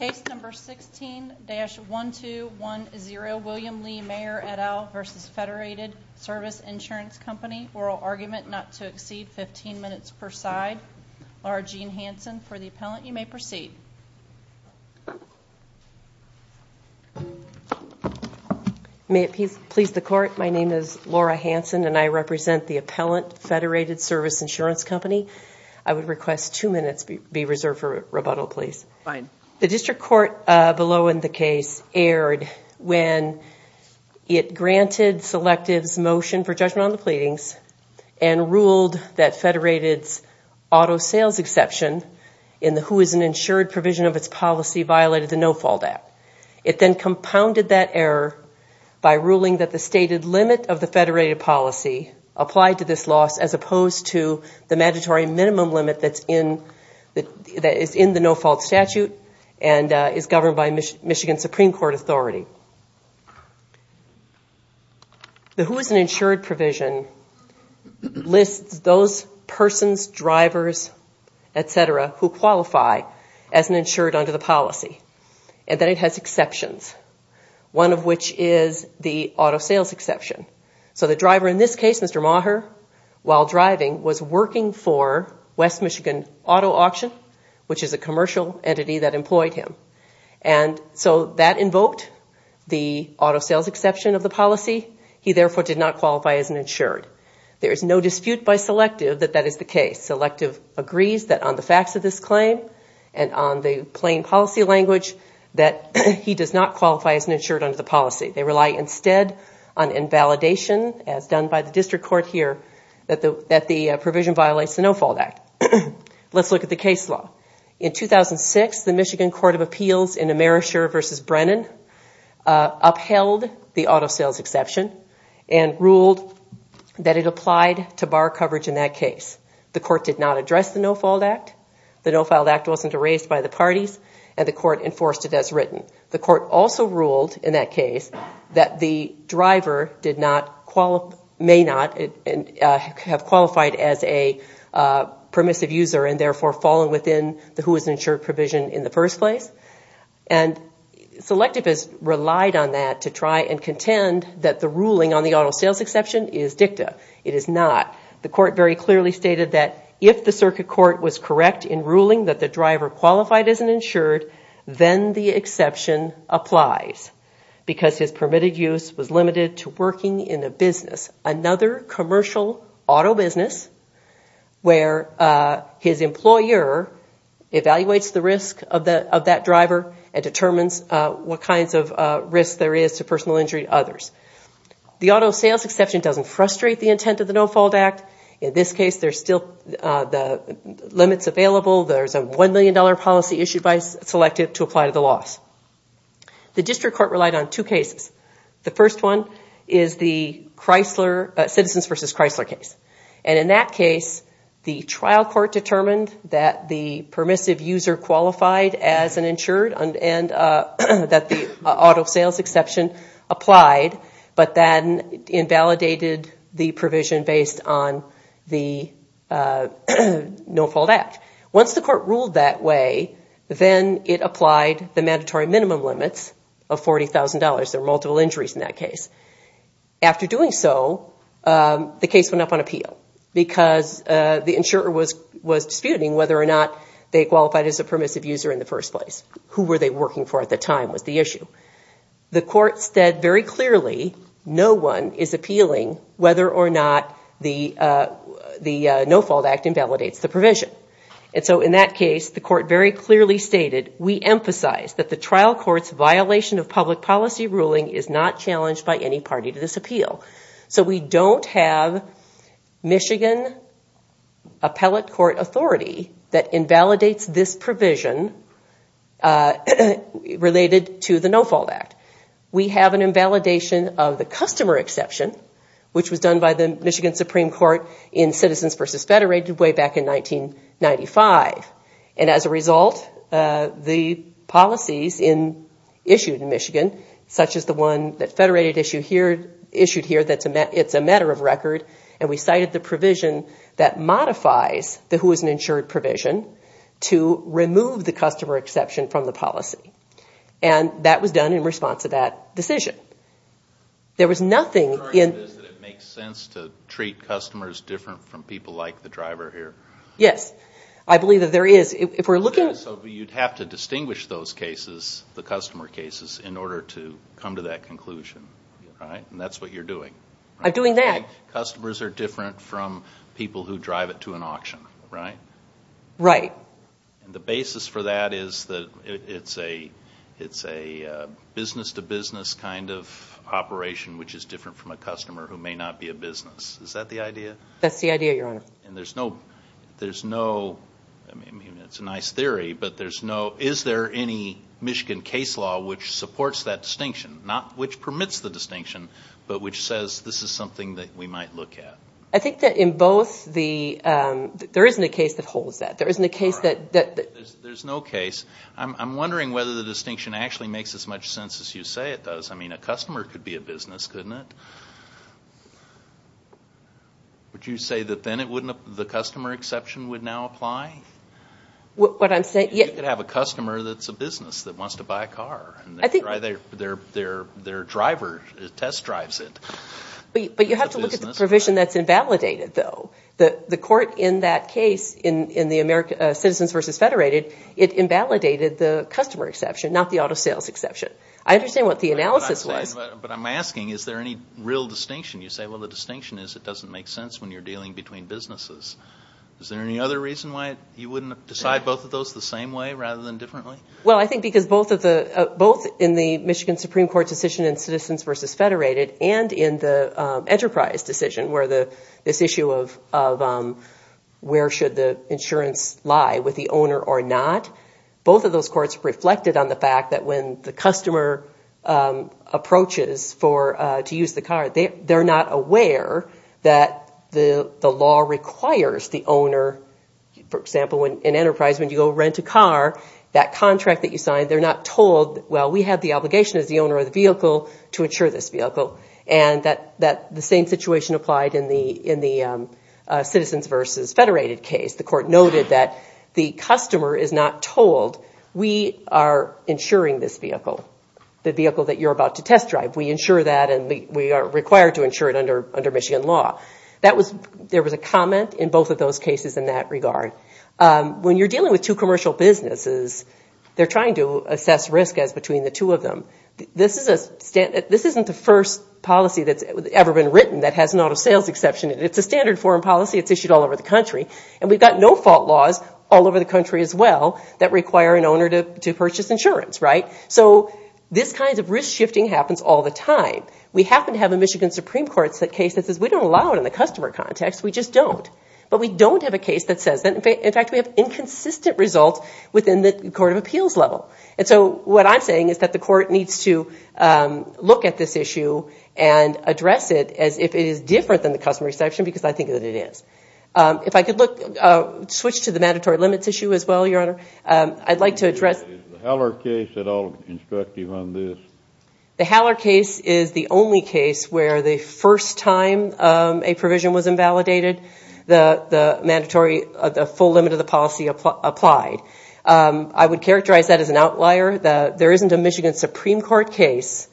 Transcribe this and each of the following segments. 16-1210 William Lee Maher, et al. v. Federated Service Insurance Company Oral Argument Not to Exceed 15 Minutes per Side Laura Jean Hansen For the Appellant, you may proceed. May it please the Court, my name is Laura Hansen and I represent the Appellant, Federated Service Insurance Company. I would request two minutes be reserved for rebuttal, please. The District Court below in the case erred when it granted Selective's motion for judgment on the pleadings and ruled that Federated's auto sales exception in the who is an insured provision of its policy violated the No-Fault Act. It then compounded that error by ruling that the stated limit of the Federated policy applied to this loss as opposed to the mandatory minimum limit that is in the No-Fault Statute and is governed by Michigan Supreme Court authority. The who is an insured provision lists those persons, drivers, et cetera, who qualify as an insured under the policy and that it has exceptions, one of which is the auto sales exception. The driver in this case, Mr. Maher, while driving was working for West Michigan Auto Auction, which is a commercial entity that employed him. That invoked the auto sales exception of the policy. He therefore did not qualify as an insured. There is no dispute by Selective that that is the case. Selective agrees that on the facts of this claim and on the plain policy language that he does not qualify as an insured under the policy. They rely instead on invalidation as done by the district court here that the provision violates the No-Fault Act. Let's look at the case law. In 2006, the Michigan Court of Appeals in Amerisher v. Brennan upheld the auto sales exception and ruled that it applied to bar coverage in that case. The court did not address the No-Fault Act. The No-Fault Act wasn't erased by the parties and the court enforced it as written. The court also ruled in that case that the driver may not have qualified as a permissive user and therefore fallen within the who is insured provision in the first place. Selective has relied on that to try and contend that the ruling on the auto sales exception is dicta. It is not. The court very clearly stated that if the circuit court was correct in ruling that the exception applies because his permitted use was limited to working in a business, another commercial auto business, where his employer evaluates the risk of that driver and determines what kinds of risks there is to personal injury to others. The auto sales exception doesn't frustrate the intent of the No-Fault Act. In this case, there's still the limits available. There's a $1 million policy issued by Selective to apply to the loss. The district court relied on two cases. The first one is the Citizens v. Chrysler case. In that case, the trial court determined that the permissive user qualified as an insured and that the auto sales exception applied, but then invalidated the provision based on the No-Fault Act. Once the court ruled that way, then it applied the mandatory minimum limits of $40,000. There were multiple injuries in that case. After doing so, the case went up on appeal because the insurer was disputing whether or not they qualified as a permissive user in the first place. Who were they working for at the time was the issue. The court said very clearly no one is appealing whether or not the No-Fault Act invalidates the provision. In that case, the court very clearly stated, we emphasize that the trial court's violation of public policy ruling is not challenged by any party to this appeal. We don't have Michigan appellate court authority that invalidates this provision related to the No-Fault Act. We have an invalidation of the customer exception, which was done by the Michigan Supreme Court in Citizens v. Federated way back in 1995. As a result, the policies issued in Michigan, such as the one that Federated issued here that's a matter of record, and we cited the provision that modifies the who isn't insured provision to remove the customer exception from the policy. That was done in response to that decision. There was nothing in... The argument is that it makes sense to treat customers different from people like the driver here. Yes. I believe that there is. If we're looking... So you'd have to distinguish those cases, the customer cases, in order to come to that conclusion, right? And that's what you're doing. I'm doing that. Customers are different from people who drive it to an auction, right? Right. The basis for that is that it's a business-to-business kind of operation, which is different from a customer who may not be a business. Is that the idea? That's the idea, Your Honor. And there's no... There's no... I mean, it's a nice theory, but there's no... Is there any Michigan case law which supports that distinction? Not which permits the distinction, but which says this is something that we might look at? I think that in both the... There isn't a case that holds that. There isn't a case that... There's no case. I'm wondering whether the distinction actually makes as much sense as you say it does. I mean, a customer could be a business, couldn't it? Would you say that then it wouldn't... The customer exception would now apply? What I'm saying... You could have a customer that's a business that wants to buy a car, and their driver test drives it. But you have to look at the provision that's invalidated, though. The court in that case, in the Citizens vs. Federated, it invalidated the customer exception, not the auto sales exception. I understand what the analysis was. But I'm asking, is there any real distinction? You say, well, the distinction is it doesn't make sense when you're dealing between businesses. Is there any other reason why you wouldn't decide both of those the same way rather than differently? Well, I think because both in the Michigan Supreme Court decision in Citizens vs. Federated and in the Enterprise decision, where this issue of where should the insurance lie, with the owner or not, both of those courts reflected on the fact that when the customer approaches to use the car, they're not aware that the law requires the owner... For example, in Enterprise, when you go rent a car, that contract that you signed, they're not told, well, we have the obligation as the owner of the vehicle to insure this vehicle. And the same situation applied in the Citizens vs. Federated case. The court noted that the customer is not told, we are insuring this vehicle, the vehicle that you're about to test drive. We insure that and we are required to insure it under Michigan law. There was a comment in both of those cases in that regard. When you're dealing with two commercial businesses, they're trying to assess risk as between the two of them. This isn't the first policy that's ever been written that has an out-of-sales exception in it. It's a standard foreign policy. It's issued all over the country. And we've got no-fault laws all over the country as well that require an owner to purchase insurance, right? So this kind of risk shifting happens all the time. We happen to have a Michigan Supreme Court case that says we don't allow it in the customer context. We just don't. But we don't have a case that says that. In fact, we have inconsistent results within the Court of Appeals level. And so what I'm saying is that the court needs to look at this issue and address it as if it is different than the customer exception because I think that it is. If I could switch to the mandatory limits issue as well, Your Honor, I'd like to address – Is the Haller case at all instructive on this? The Haller case is the only case where the first time a provision was invalidated, the mandatory – the full limit of the policy applied. I would characterize that as an outlier. There isn't a Michigan Supreme Court case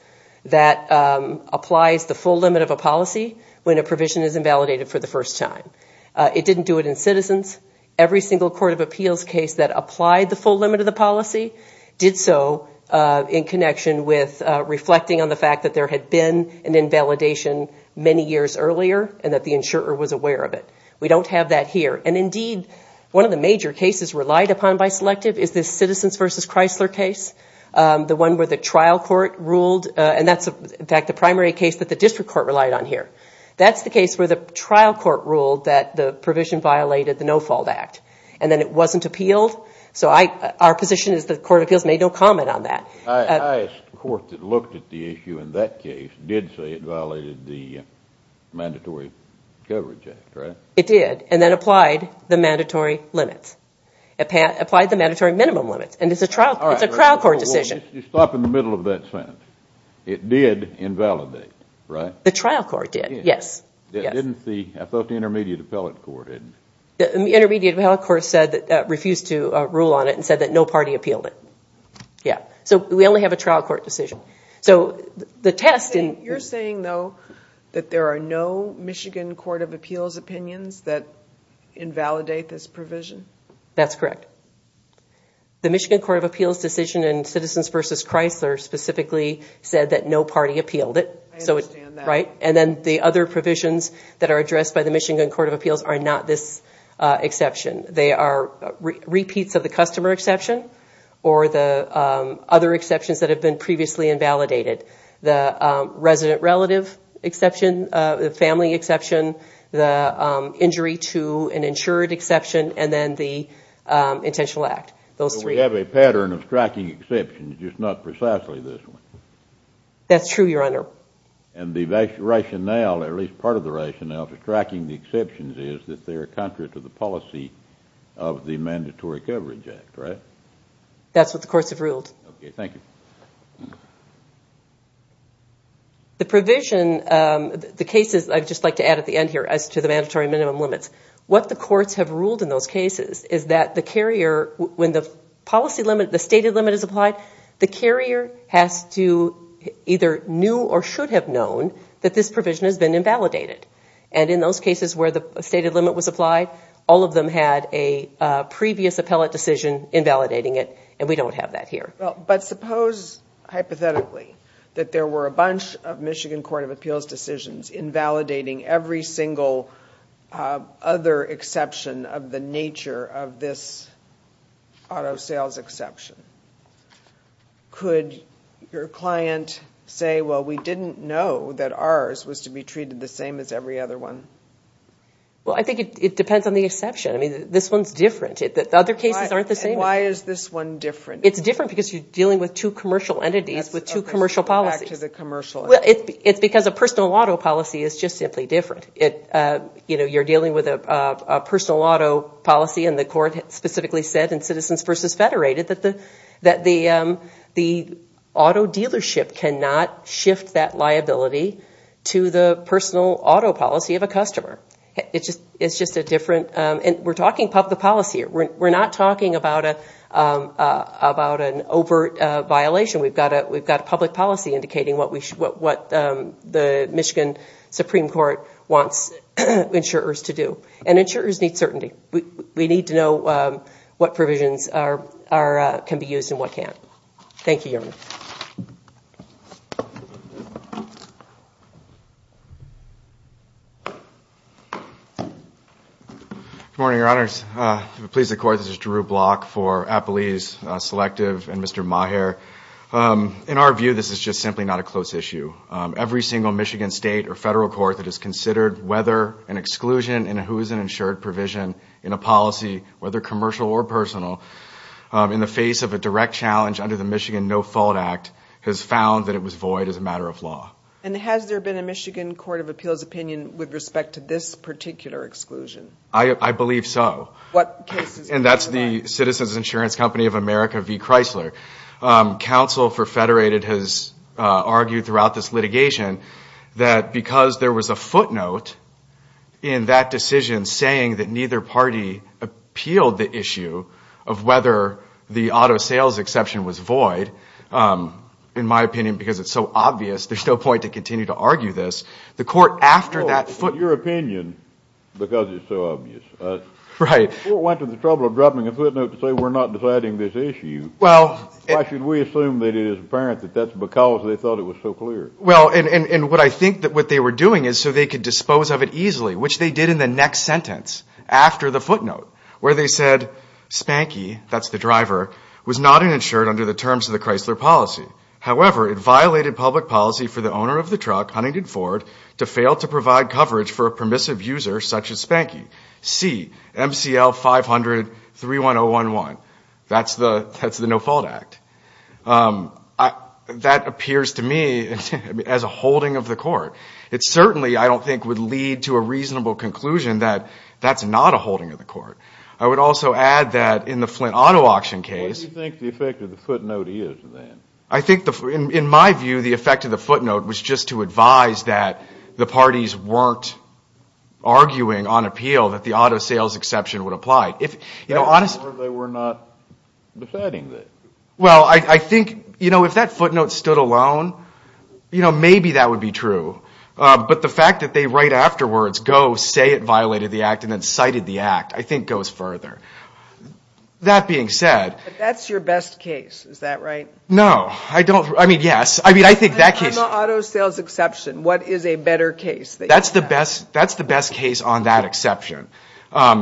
that applies the full limit of a policy when a provision is invalidated for the first time. It didn't do it in Citizens. Every single Court of Appeals case that applied the full limit of the policy did so in connection with reflecting on the fact that there had been an invalidation many years earlier and that the insurer was aware of it. We don't have that here. And indeed, one of the major cases relied upon by Selective is this Citizens v. Chrysler case, the one where the trial court ruled – and that's, in fact, the primary case that the district court relied on here. That's the case where the trial court ruled that the provision violated the No-Fault Act and then it wasn't appealed. So our position is that the Court of Appeals made no comment on that. I asked the court that looked at the issue in that case, did say it violated the Mandatory Coverage Act, right? It did. And then applied the mandatory limits. Applied the mandatory minimum limits. And it's a trial court decision. All right. Well, just stop in the middle of that sentence. It did invalidate, right? The trial court did, yes. Yes. Didn't the – I thought the intermediate appellate court did. The intermediate appellate court refused to rule on it and said that no party appealed it. Yeah. So we only have a trial court decision. So the test in – You're saying, though, that there are no Michigan Court of Appeals opinions that invalidate this provision? That's correct. The Michigan Court of Appeals decision in Citizens v. Chrysler specifically said that no party appealed it. I understand that. Right? And then the other provisions that are addressed by the Michigan Court of Appeals are not this exception. They are repeats of the customer exception or the other exceptions that have been previously invalidated. The resident relative exception, the family exception, the injury to an insured exception, and then the intentional act. Those three. Well, we have a pattern of striking exceptions, just not precisely this one. That's true, Your Honor. And the rationale, at least part of the rationale, for striking the exceptions is that they are contrary to the policy of the Mandatory Coverage Act, right? That's what the courts have ruled. Okay. Thank you. The provision – the cases – I'd just like to add at the end here as to the mandatory minimum limits. What the courts have ruled in those cases is that the carrier – when the policy limit, the stated limit is applied, the carrier has to either knew or should have known that this provision has been invalidated. And in those cases where the stated limit was applied, all of them had a previous appellate decision invalidating it, and we don't have that here. But suppose, hypothetically, that there were a bunch of Michigan Court of Appeals decisions invalidating every single other exception of the nature of this auto sales exception. Could your client say, well, we didn't know that ours was to be treated the same as every other one? Well, I think it depends on the exception. I mean, this one's different. Other cases aren't the same. And why is this one different? It's different because you're dealing with two commercial entities with two commercial policies. That's okay. Let's go back to the commercial entities. Well, it's because a personal auto policy is just simply different. You know, you're dealing with a personal auto policy, and the court specifically said in Citizens versus Federated that the auto dealership cannot shift that liability to the personal auto policy of a customer. It's just a different, and we're talking public policy here. We're not talking about an overt violation. We've got a public policy indicating what the Michigan Supreme Court wants insurers to do. And insurers need certainty. We need to know what provisions can be used and what can't. Thank you, Your Honor. Good morning, Your Honors. If it pleases the Court, this is Drew Block for Appelee's Selective and Mr. Maher. In our view, this is just simply not a close issue. Every single Michigan state or federal court that has considered whether an exclusion in a policy, whether commercial or personal, in the face of a direct challenge under the Michigan No Fault Act has found that it was void as a matter of law. And has there been a Michigan Court of Appeals opinion with respect to this particular exclusion? I believe so. What case is it? And that's the Citizens Insurance Company of America v. Chrysler. Counsel for Federated has argued throughout this litigation that because there was a footnote in that decision saying that neither party appealed the issue of whether the auto sales exception was void, in my opinion, because it's so obvious, there's no point to continue to argue this. The court after that footnote... Well, in your opinion, because it's so obvious... Right. The court went to the trouble of dropping a footnote to say we're not deciding this issue. Well... Why should we assume that it is apparent that that's because they thought it was so clear? Well, and what I think that what they were doing is so they could dispose of it easily, which they did in the next sentence after the footnote, where they said, Spanky, that's the driver, was not insured under the terms of the Chrysler policy. However, it violated public policy for the owner of the truck, Huntington Ford, to fail to provide coverage for a permissive user such as Spanky. See MCL 500-31011. That's the No Fault Act. That appears to me as a holding of the court. It certainly, I don't think, would lead to a reasonable conclusion that that's not a holding of the court. I would also add that in the Flint auto auction case... What do you think the effect of the footnote is, then? I think, in my view, the effect of the footnote was just to advise that the parties weren't arguing on appeal that the auto sales exception would apply. They were not deciding this. Well, I think, you know, if that footnote stood alone, you know, maybe that would be true. But the fact that they, right afterwards, go say it violated the act and then cited the act, I think goes further. That being said... But that's your best case, is that right? No, I don't... I mean, yes. I mean, I think that case... On the auto sales exception, what is a better case that you have? That's the best case on that exception,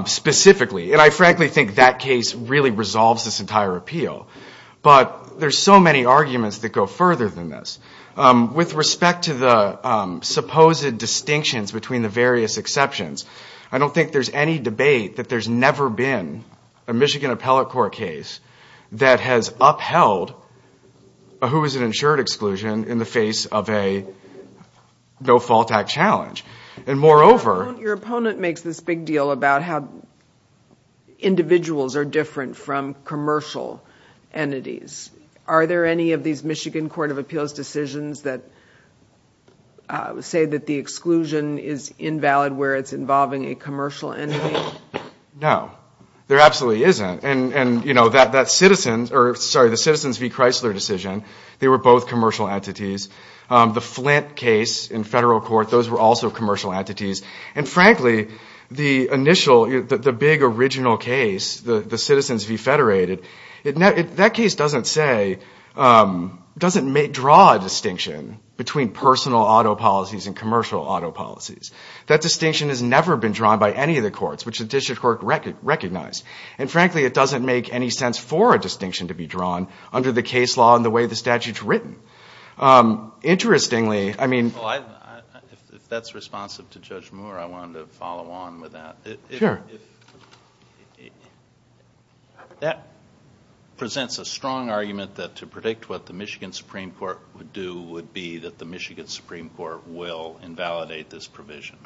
specifically. And I frankly think that case really resolves this entire appeal. But there's so many arguments that go further than this. With respect to the supposed distinctions between the various exceptions, I don't think there's any debate that there's never been a Michigan appellate court case that has upheld a who is an insured exclusion in the face of a no-fault act challenge. And moreover... Individuals are different from commercial entities. Are there any of these Michigan Court of Appeals decisions that say that the exclusion is invalid where it's involving a commercial entity? No. There absolutely isn't. And, you know, that Citizens... Sorry, the Citizens v. Chrysler decision, they were both commercial entities. The Flint case in federal court, those were also commercial entities. And, frankly, the initial, the big original case, the Citizens v. Federated, that case doesn't say, doesn't draw a distinction between personal auto policies and commercial auto policies. That distinction has never been drawn by any of the courts, which the district court recognized. And, frankly, it doesn't make any sense for a distinction to be drawn under the case law and the way the statute's written. Interestingly, I mean... Well, if that's responsive to Judge Moore, I wanted to follow on with that. Sure. That presents a strong argument that to predict what the Michigan Supreme Court would do would be that the Michigan Supreme Court will invalidate this provision.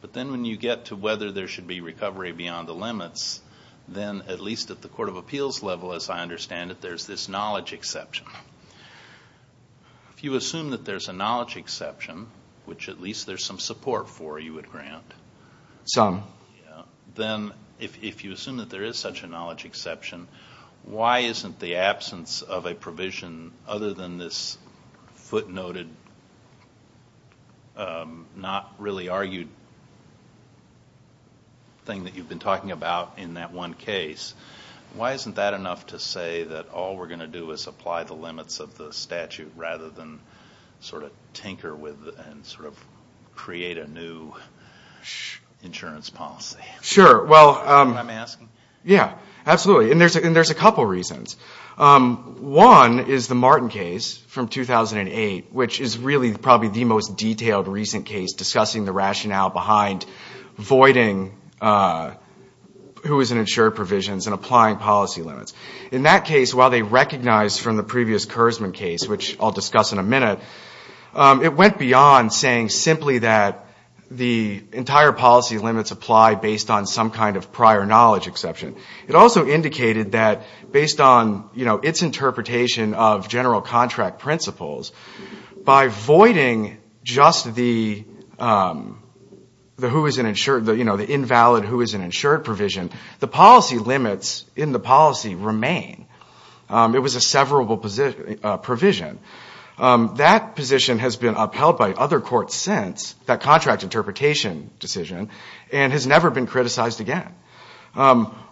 But then when you get to whether there should be recovery beyond the limits, then at least at the court of appeals level, as I understand it, there's this knowledge exception. If you assume that there's a knowledge exception, which at least there's some support for you would grant... Some. Yeah. Then if you assume that there is such a knowledge exception, why isn't the absence of a provision other than this footnoted, not really argued thing that you've been talking about in that one case, why isn't that enough to say that all we're going to do is apply the limits of the statute rather than sort of tinker with and sort of create a new insurance policy? Sure. Is that what I'm asking? Yeah. Absolutely. And there's a couple reasons. One is the Martin case from 2008, which is really probably the most detailed recent case discussing the rationale behind voiding who is in insured provisions and applying policy limits. In that case, while they recognized from the previous Kurzman case, which I'll discuss in a minute, it went beyond saying simply that the entire policy limits apply based on some kind of prior knowledge exception. It also indicated that based on its interpretation of general contract principles, by voiding just the invalid who is in insured provision, the policy limits in the policy remain. It was a severable provision. That position has been upheld by other courts since, that contract interpretation decision, and has never been criticized again.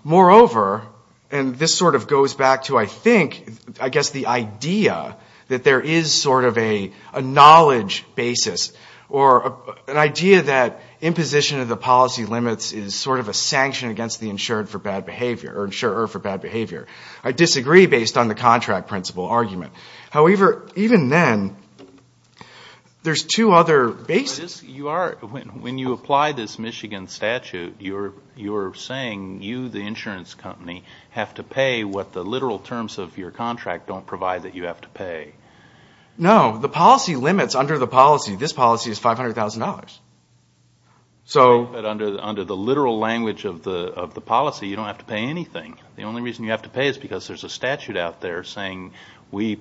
Moreover, and this sort of goes back to, I think, I guess the idea that there is sort of a knowledge basis, or an idea that imposition of the policy limits is sort of a sanction against the insured for bad behavior, or insurer for bad behavior. I disagree based on the contract principle argument. However, even then, there's two other bases. When you apply this Michigan statute, you're saying you, the insurance company, have to pay what the literal terms of your contract don't provide that you have to pay. No. The policy limits under the policy. This policy is $500,000. Under the literal language of the policy, you don't have to pay anything. The only reason you have to pay is because there's a statute out there saying, we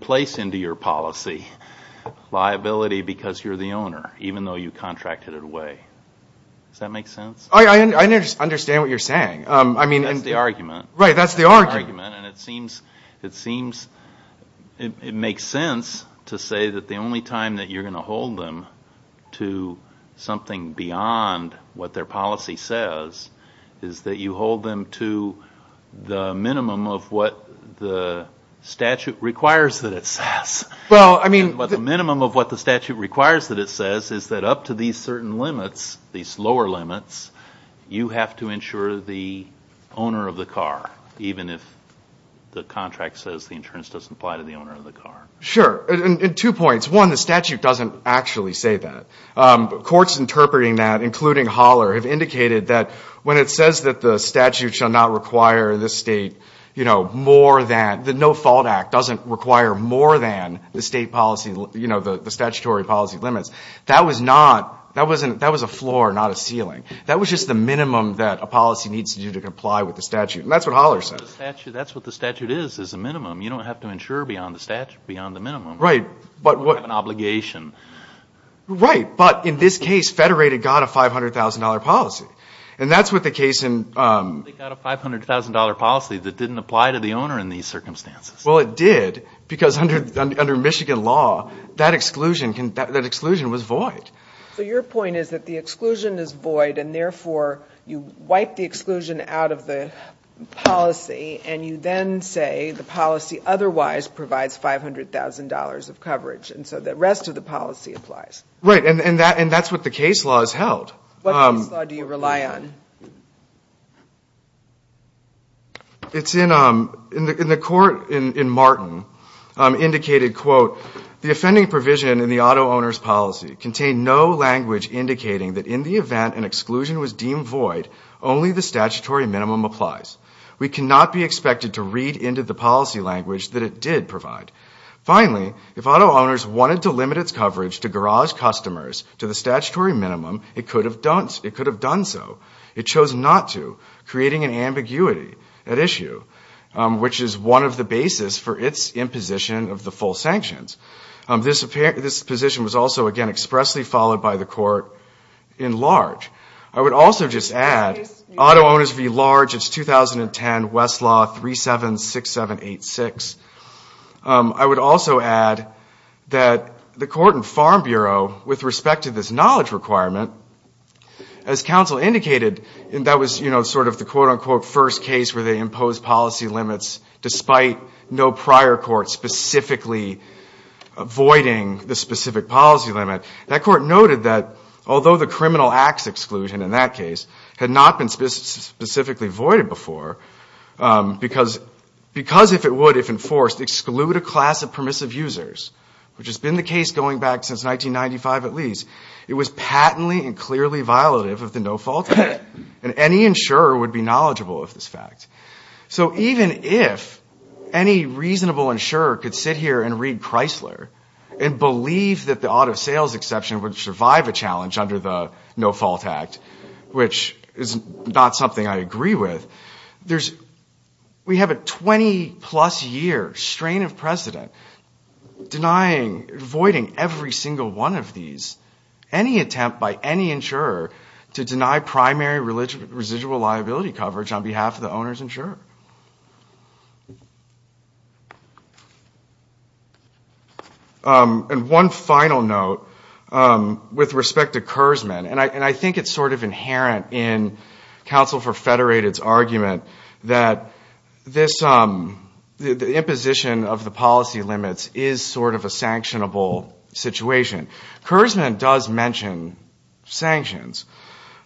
place into your policy liability because you're the owner, even though you contracted it away. Does that make sense? I understand what you're saying. That's the argument. Right, that's the argument. That's the argument, and it seems, it makes sense to say that the only time that you're going to hold them to something beyond what their policy says is that you hold them to the minimum of what the statute requires that it says. The minimum of what the statute requires that it says is that up to these certain limits, these lower limits, you have to insure the owner of the car, even if the contract says the insurance doesn't apply to the owner of the car. Sure. Two points. One, the statute doesn't actually say that. Courts interpreting that, including Holler, have indicated that when it says that the statute shall not require the state, you know, more than, the No Fault Act doesn't require more than the state policy, you know, the statutory policy limits. That was not, that was a floor, not a ceiling. That was just the minimum that a policy needs to do to comply with the statute, and that's what Holler says. That's what the statute is, is a minimum. You don't have to insure beyond the minimum. Right. You don't have an obligation. Right. But in this case, Federated got a $500,000 policy, and that's what the case in... They got a $500,000 policy that didn't apply to the owner in these circumstances. Well, it did, because under Michigan law, that exclusion was void. So your point is that the exclusion is void, and therefore you wipe the exclusion out of the policy, and you then say the policy otherwise provides $500,000 of coverage, and so the rest of the policy applies. Right, and that's what the case law has held. What case law do you rely on? It's in the court in Martin, indicated, quote, the offending provision in the auto owner's policy contained no language indicating that in the event an exclusion was deemed void, only the statutory minimum applies. We cannot be expected to read into the policy language that it did provide. Finally, if auto owners wanted to limit its coverage to garage customers to the statutory minimum, it could have done so. It chose not to, creating an ambiguity at issue, which is one of the basis for its imposition of the full sanctions. This position was also, again, expressly followed by the court in large. I would also just add, auto owners v. large, it's 2010, Westlaw 376786. I would also add that the court in Farm Bureau, with respect to this knowledge requirement, as counsel indicated, that was sort of the quote, unquote, first case where they imposed policy limits despite no prior court specifically voiding the specific policy limit. That court noted that although the criminal acts exclusion in that case had not been specifically voided before, because if it would, if enforced, exclude a class of permissive users, which has been the case going back since 1995 at least, it was patently and clearly violative of the No Fault Act. Any insurer would be knowledgeable of this fact. Even if any reasonable insurer could sit here and read Chrysler and believe that the auto sales exception would survive a challenge under the No Fault Act, which is not something I agree with, we have a 20-plus year strain of precedent denying, voiding every single one of these. Any attempt by any insurer to deny primary residual liability coverage on behalf of the owner's insurer. And one final note with respect to Kurzman, and I think it's sort of inherent in Counsel for Federated's argument that the imposition of the policy limits is sort of a sanctionable situation. Kurzman does mention sanctions,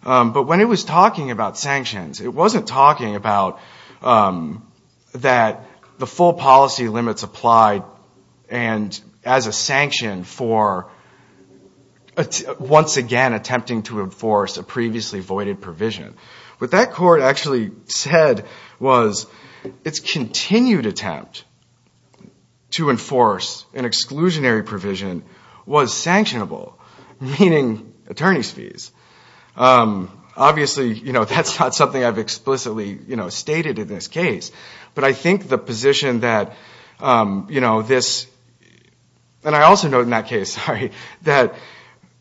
but when he was talking about sanctions, it wasn't talking about that the full policy limits applied and as a sanction for once again attempting to enforce a previously voided provision. What that court actually said was its continued attempt to enforce an exclusionary provision was sanctionable, meaning attorney's fees. Obviously, that's not something I've explicitly stated in this case, but I think the position that this, and I also note in that case, that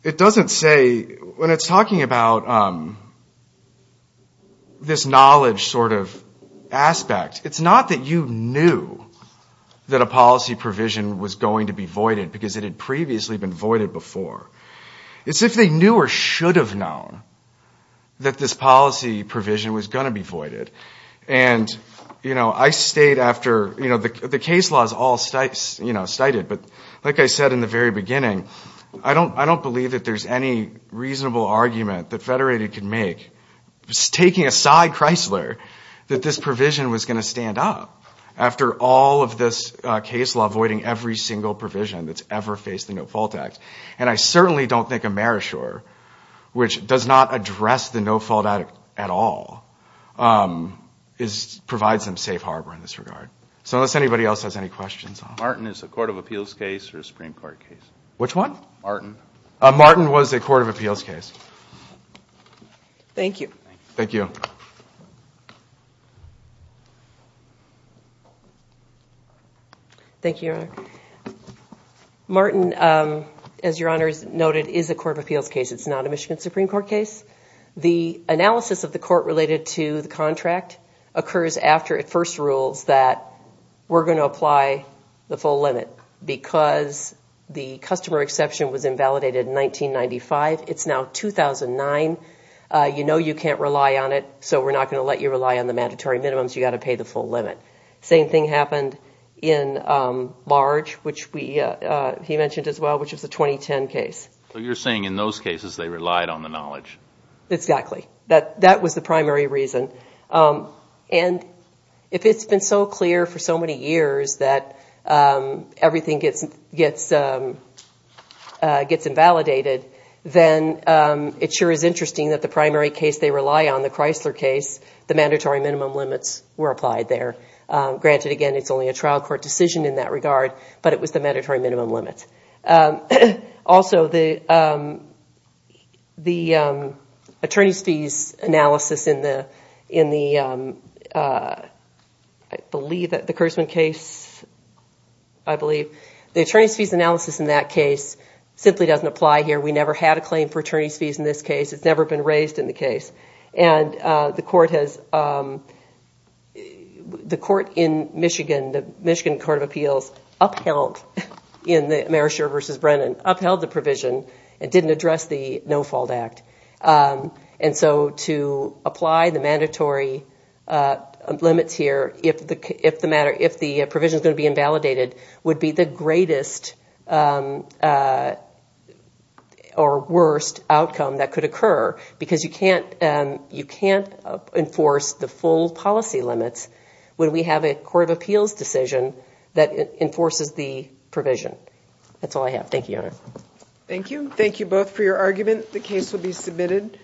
it doesn't say, when it's talking about this knowledge sort of aspect, it's not that you knew that a policy provision was going to be voided because it had previously been voided before. It's if they knew or should have known that this policy provision was going to be voided. And I state after, the case law is all cited, but like I said in the very beginning, I don't believe that there's any reasonable argument that Federated could make, taking aside Chrysler, that this provision was going to stand up after all of this case law voiding every single provision that's ever faced the No-Fault Act. And I certainly don't think Amerishore, which does not address the No-Fault Act at all, provides them safe harbor in this regard. So unless anybody else has any questions. Martin is a Court of Appeals case or a Supreme Court case? Which one? Martin. Martin was a Court of Appeals case. Thank you. Thank you. Thank you, Your Honor. Martin, as Your Honor has noted, is a Court of Appeals case. It's not a Michigan Supreme Court case. The analysis of the court related to the contract occurs after it first rules that we're going to apply the full limit because the customer exception was invalidated in 1995. It's now 2009. You know you can't rely on it, so we're not going to let you rely on the mandatory minimums. You've got to pay the full limit. Same thing happened in March, which he mentioned as well, which was the 2010 case. So you're saying in those cases they relied on the knowledge. Exactly. That was the primary reason. And if it's been so clear for so many years that everything gets invalidated, then it sure is interesting that the primary case they rely on, the Chrysler case, the mandatory minimum limits were applied there. Granted, again, it's only a trial court decision in that regard, but it was the mandatory minimum limits. Also, the attorney's fees analysis in the Kersman case, I believe, the attorney's fees analysis in that case simply doesn't apply here. We never had a claim for attorney's fees in this case. It's never been raised in the case. And the court in Michigan, the Michigan Court of Appeals, upheld in the Merisher v. Brennan, upheld the provision and didn't address the No-Fault Act. And so to apply the mandatory limits here, if the provision is going to be invalidated, would be the greatest or worst outcome that could occur because you can't enforce the full policy limits when we have a court of appeals decision that enforces the provision. That's all I have. Thank you, Your Honor. Thank you. Thank you both for your argument. The case will be submitted.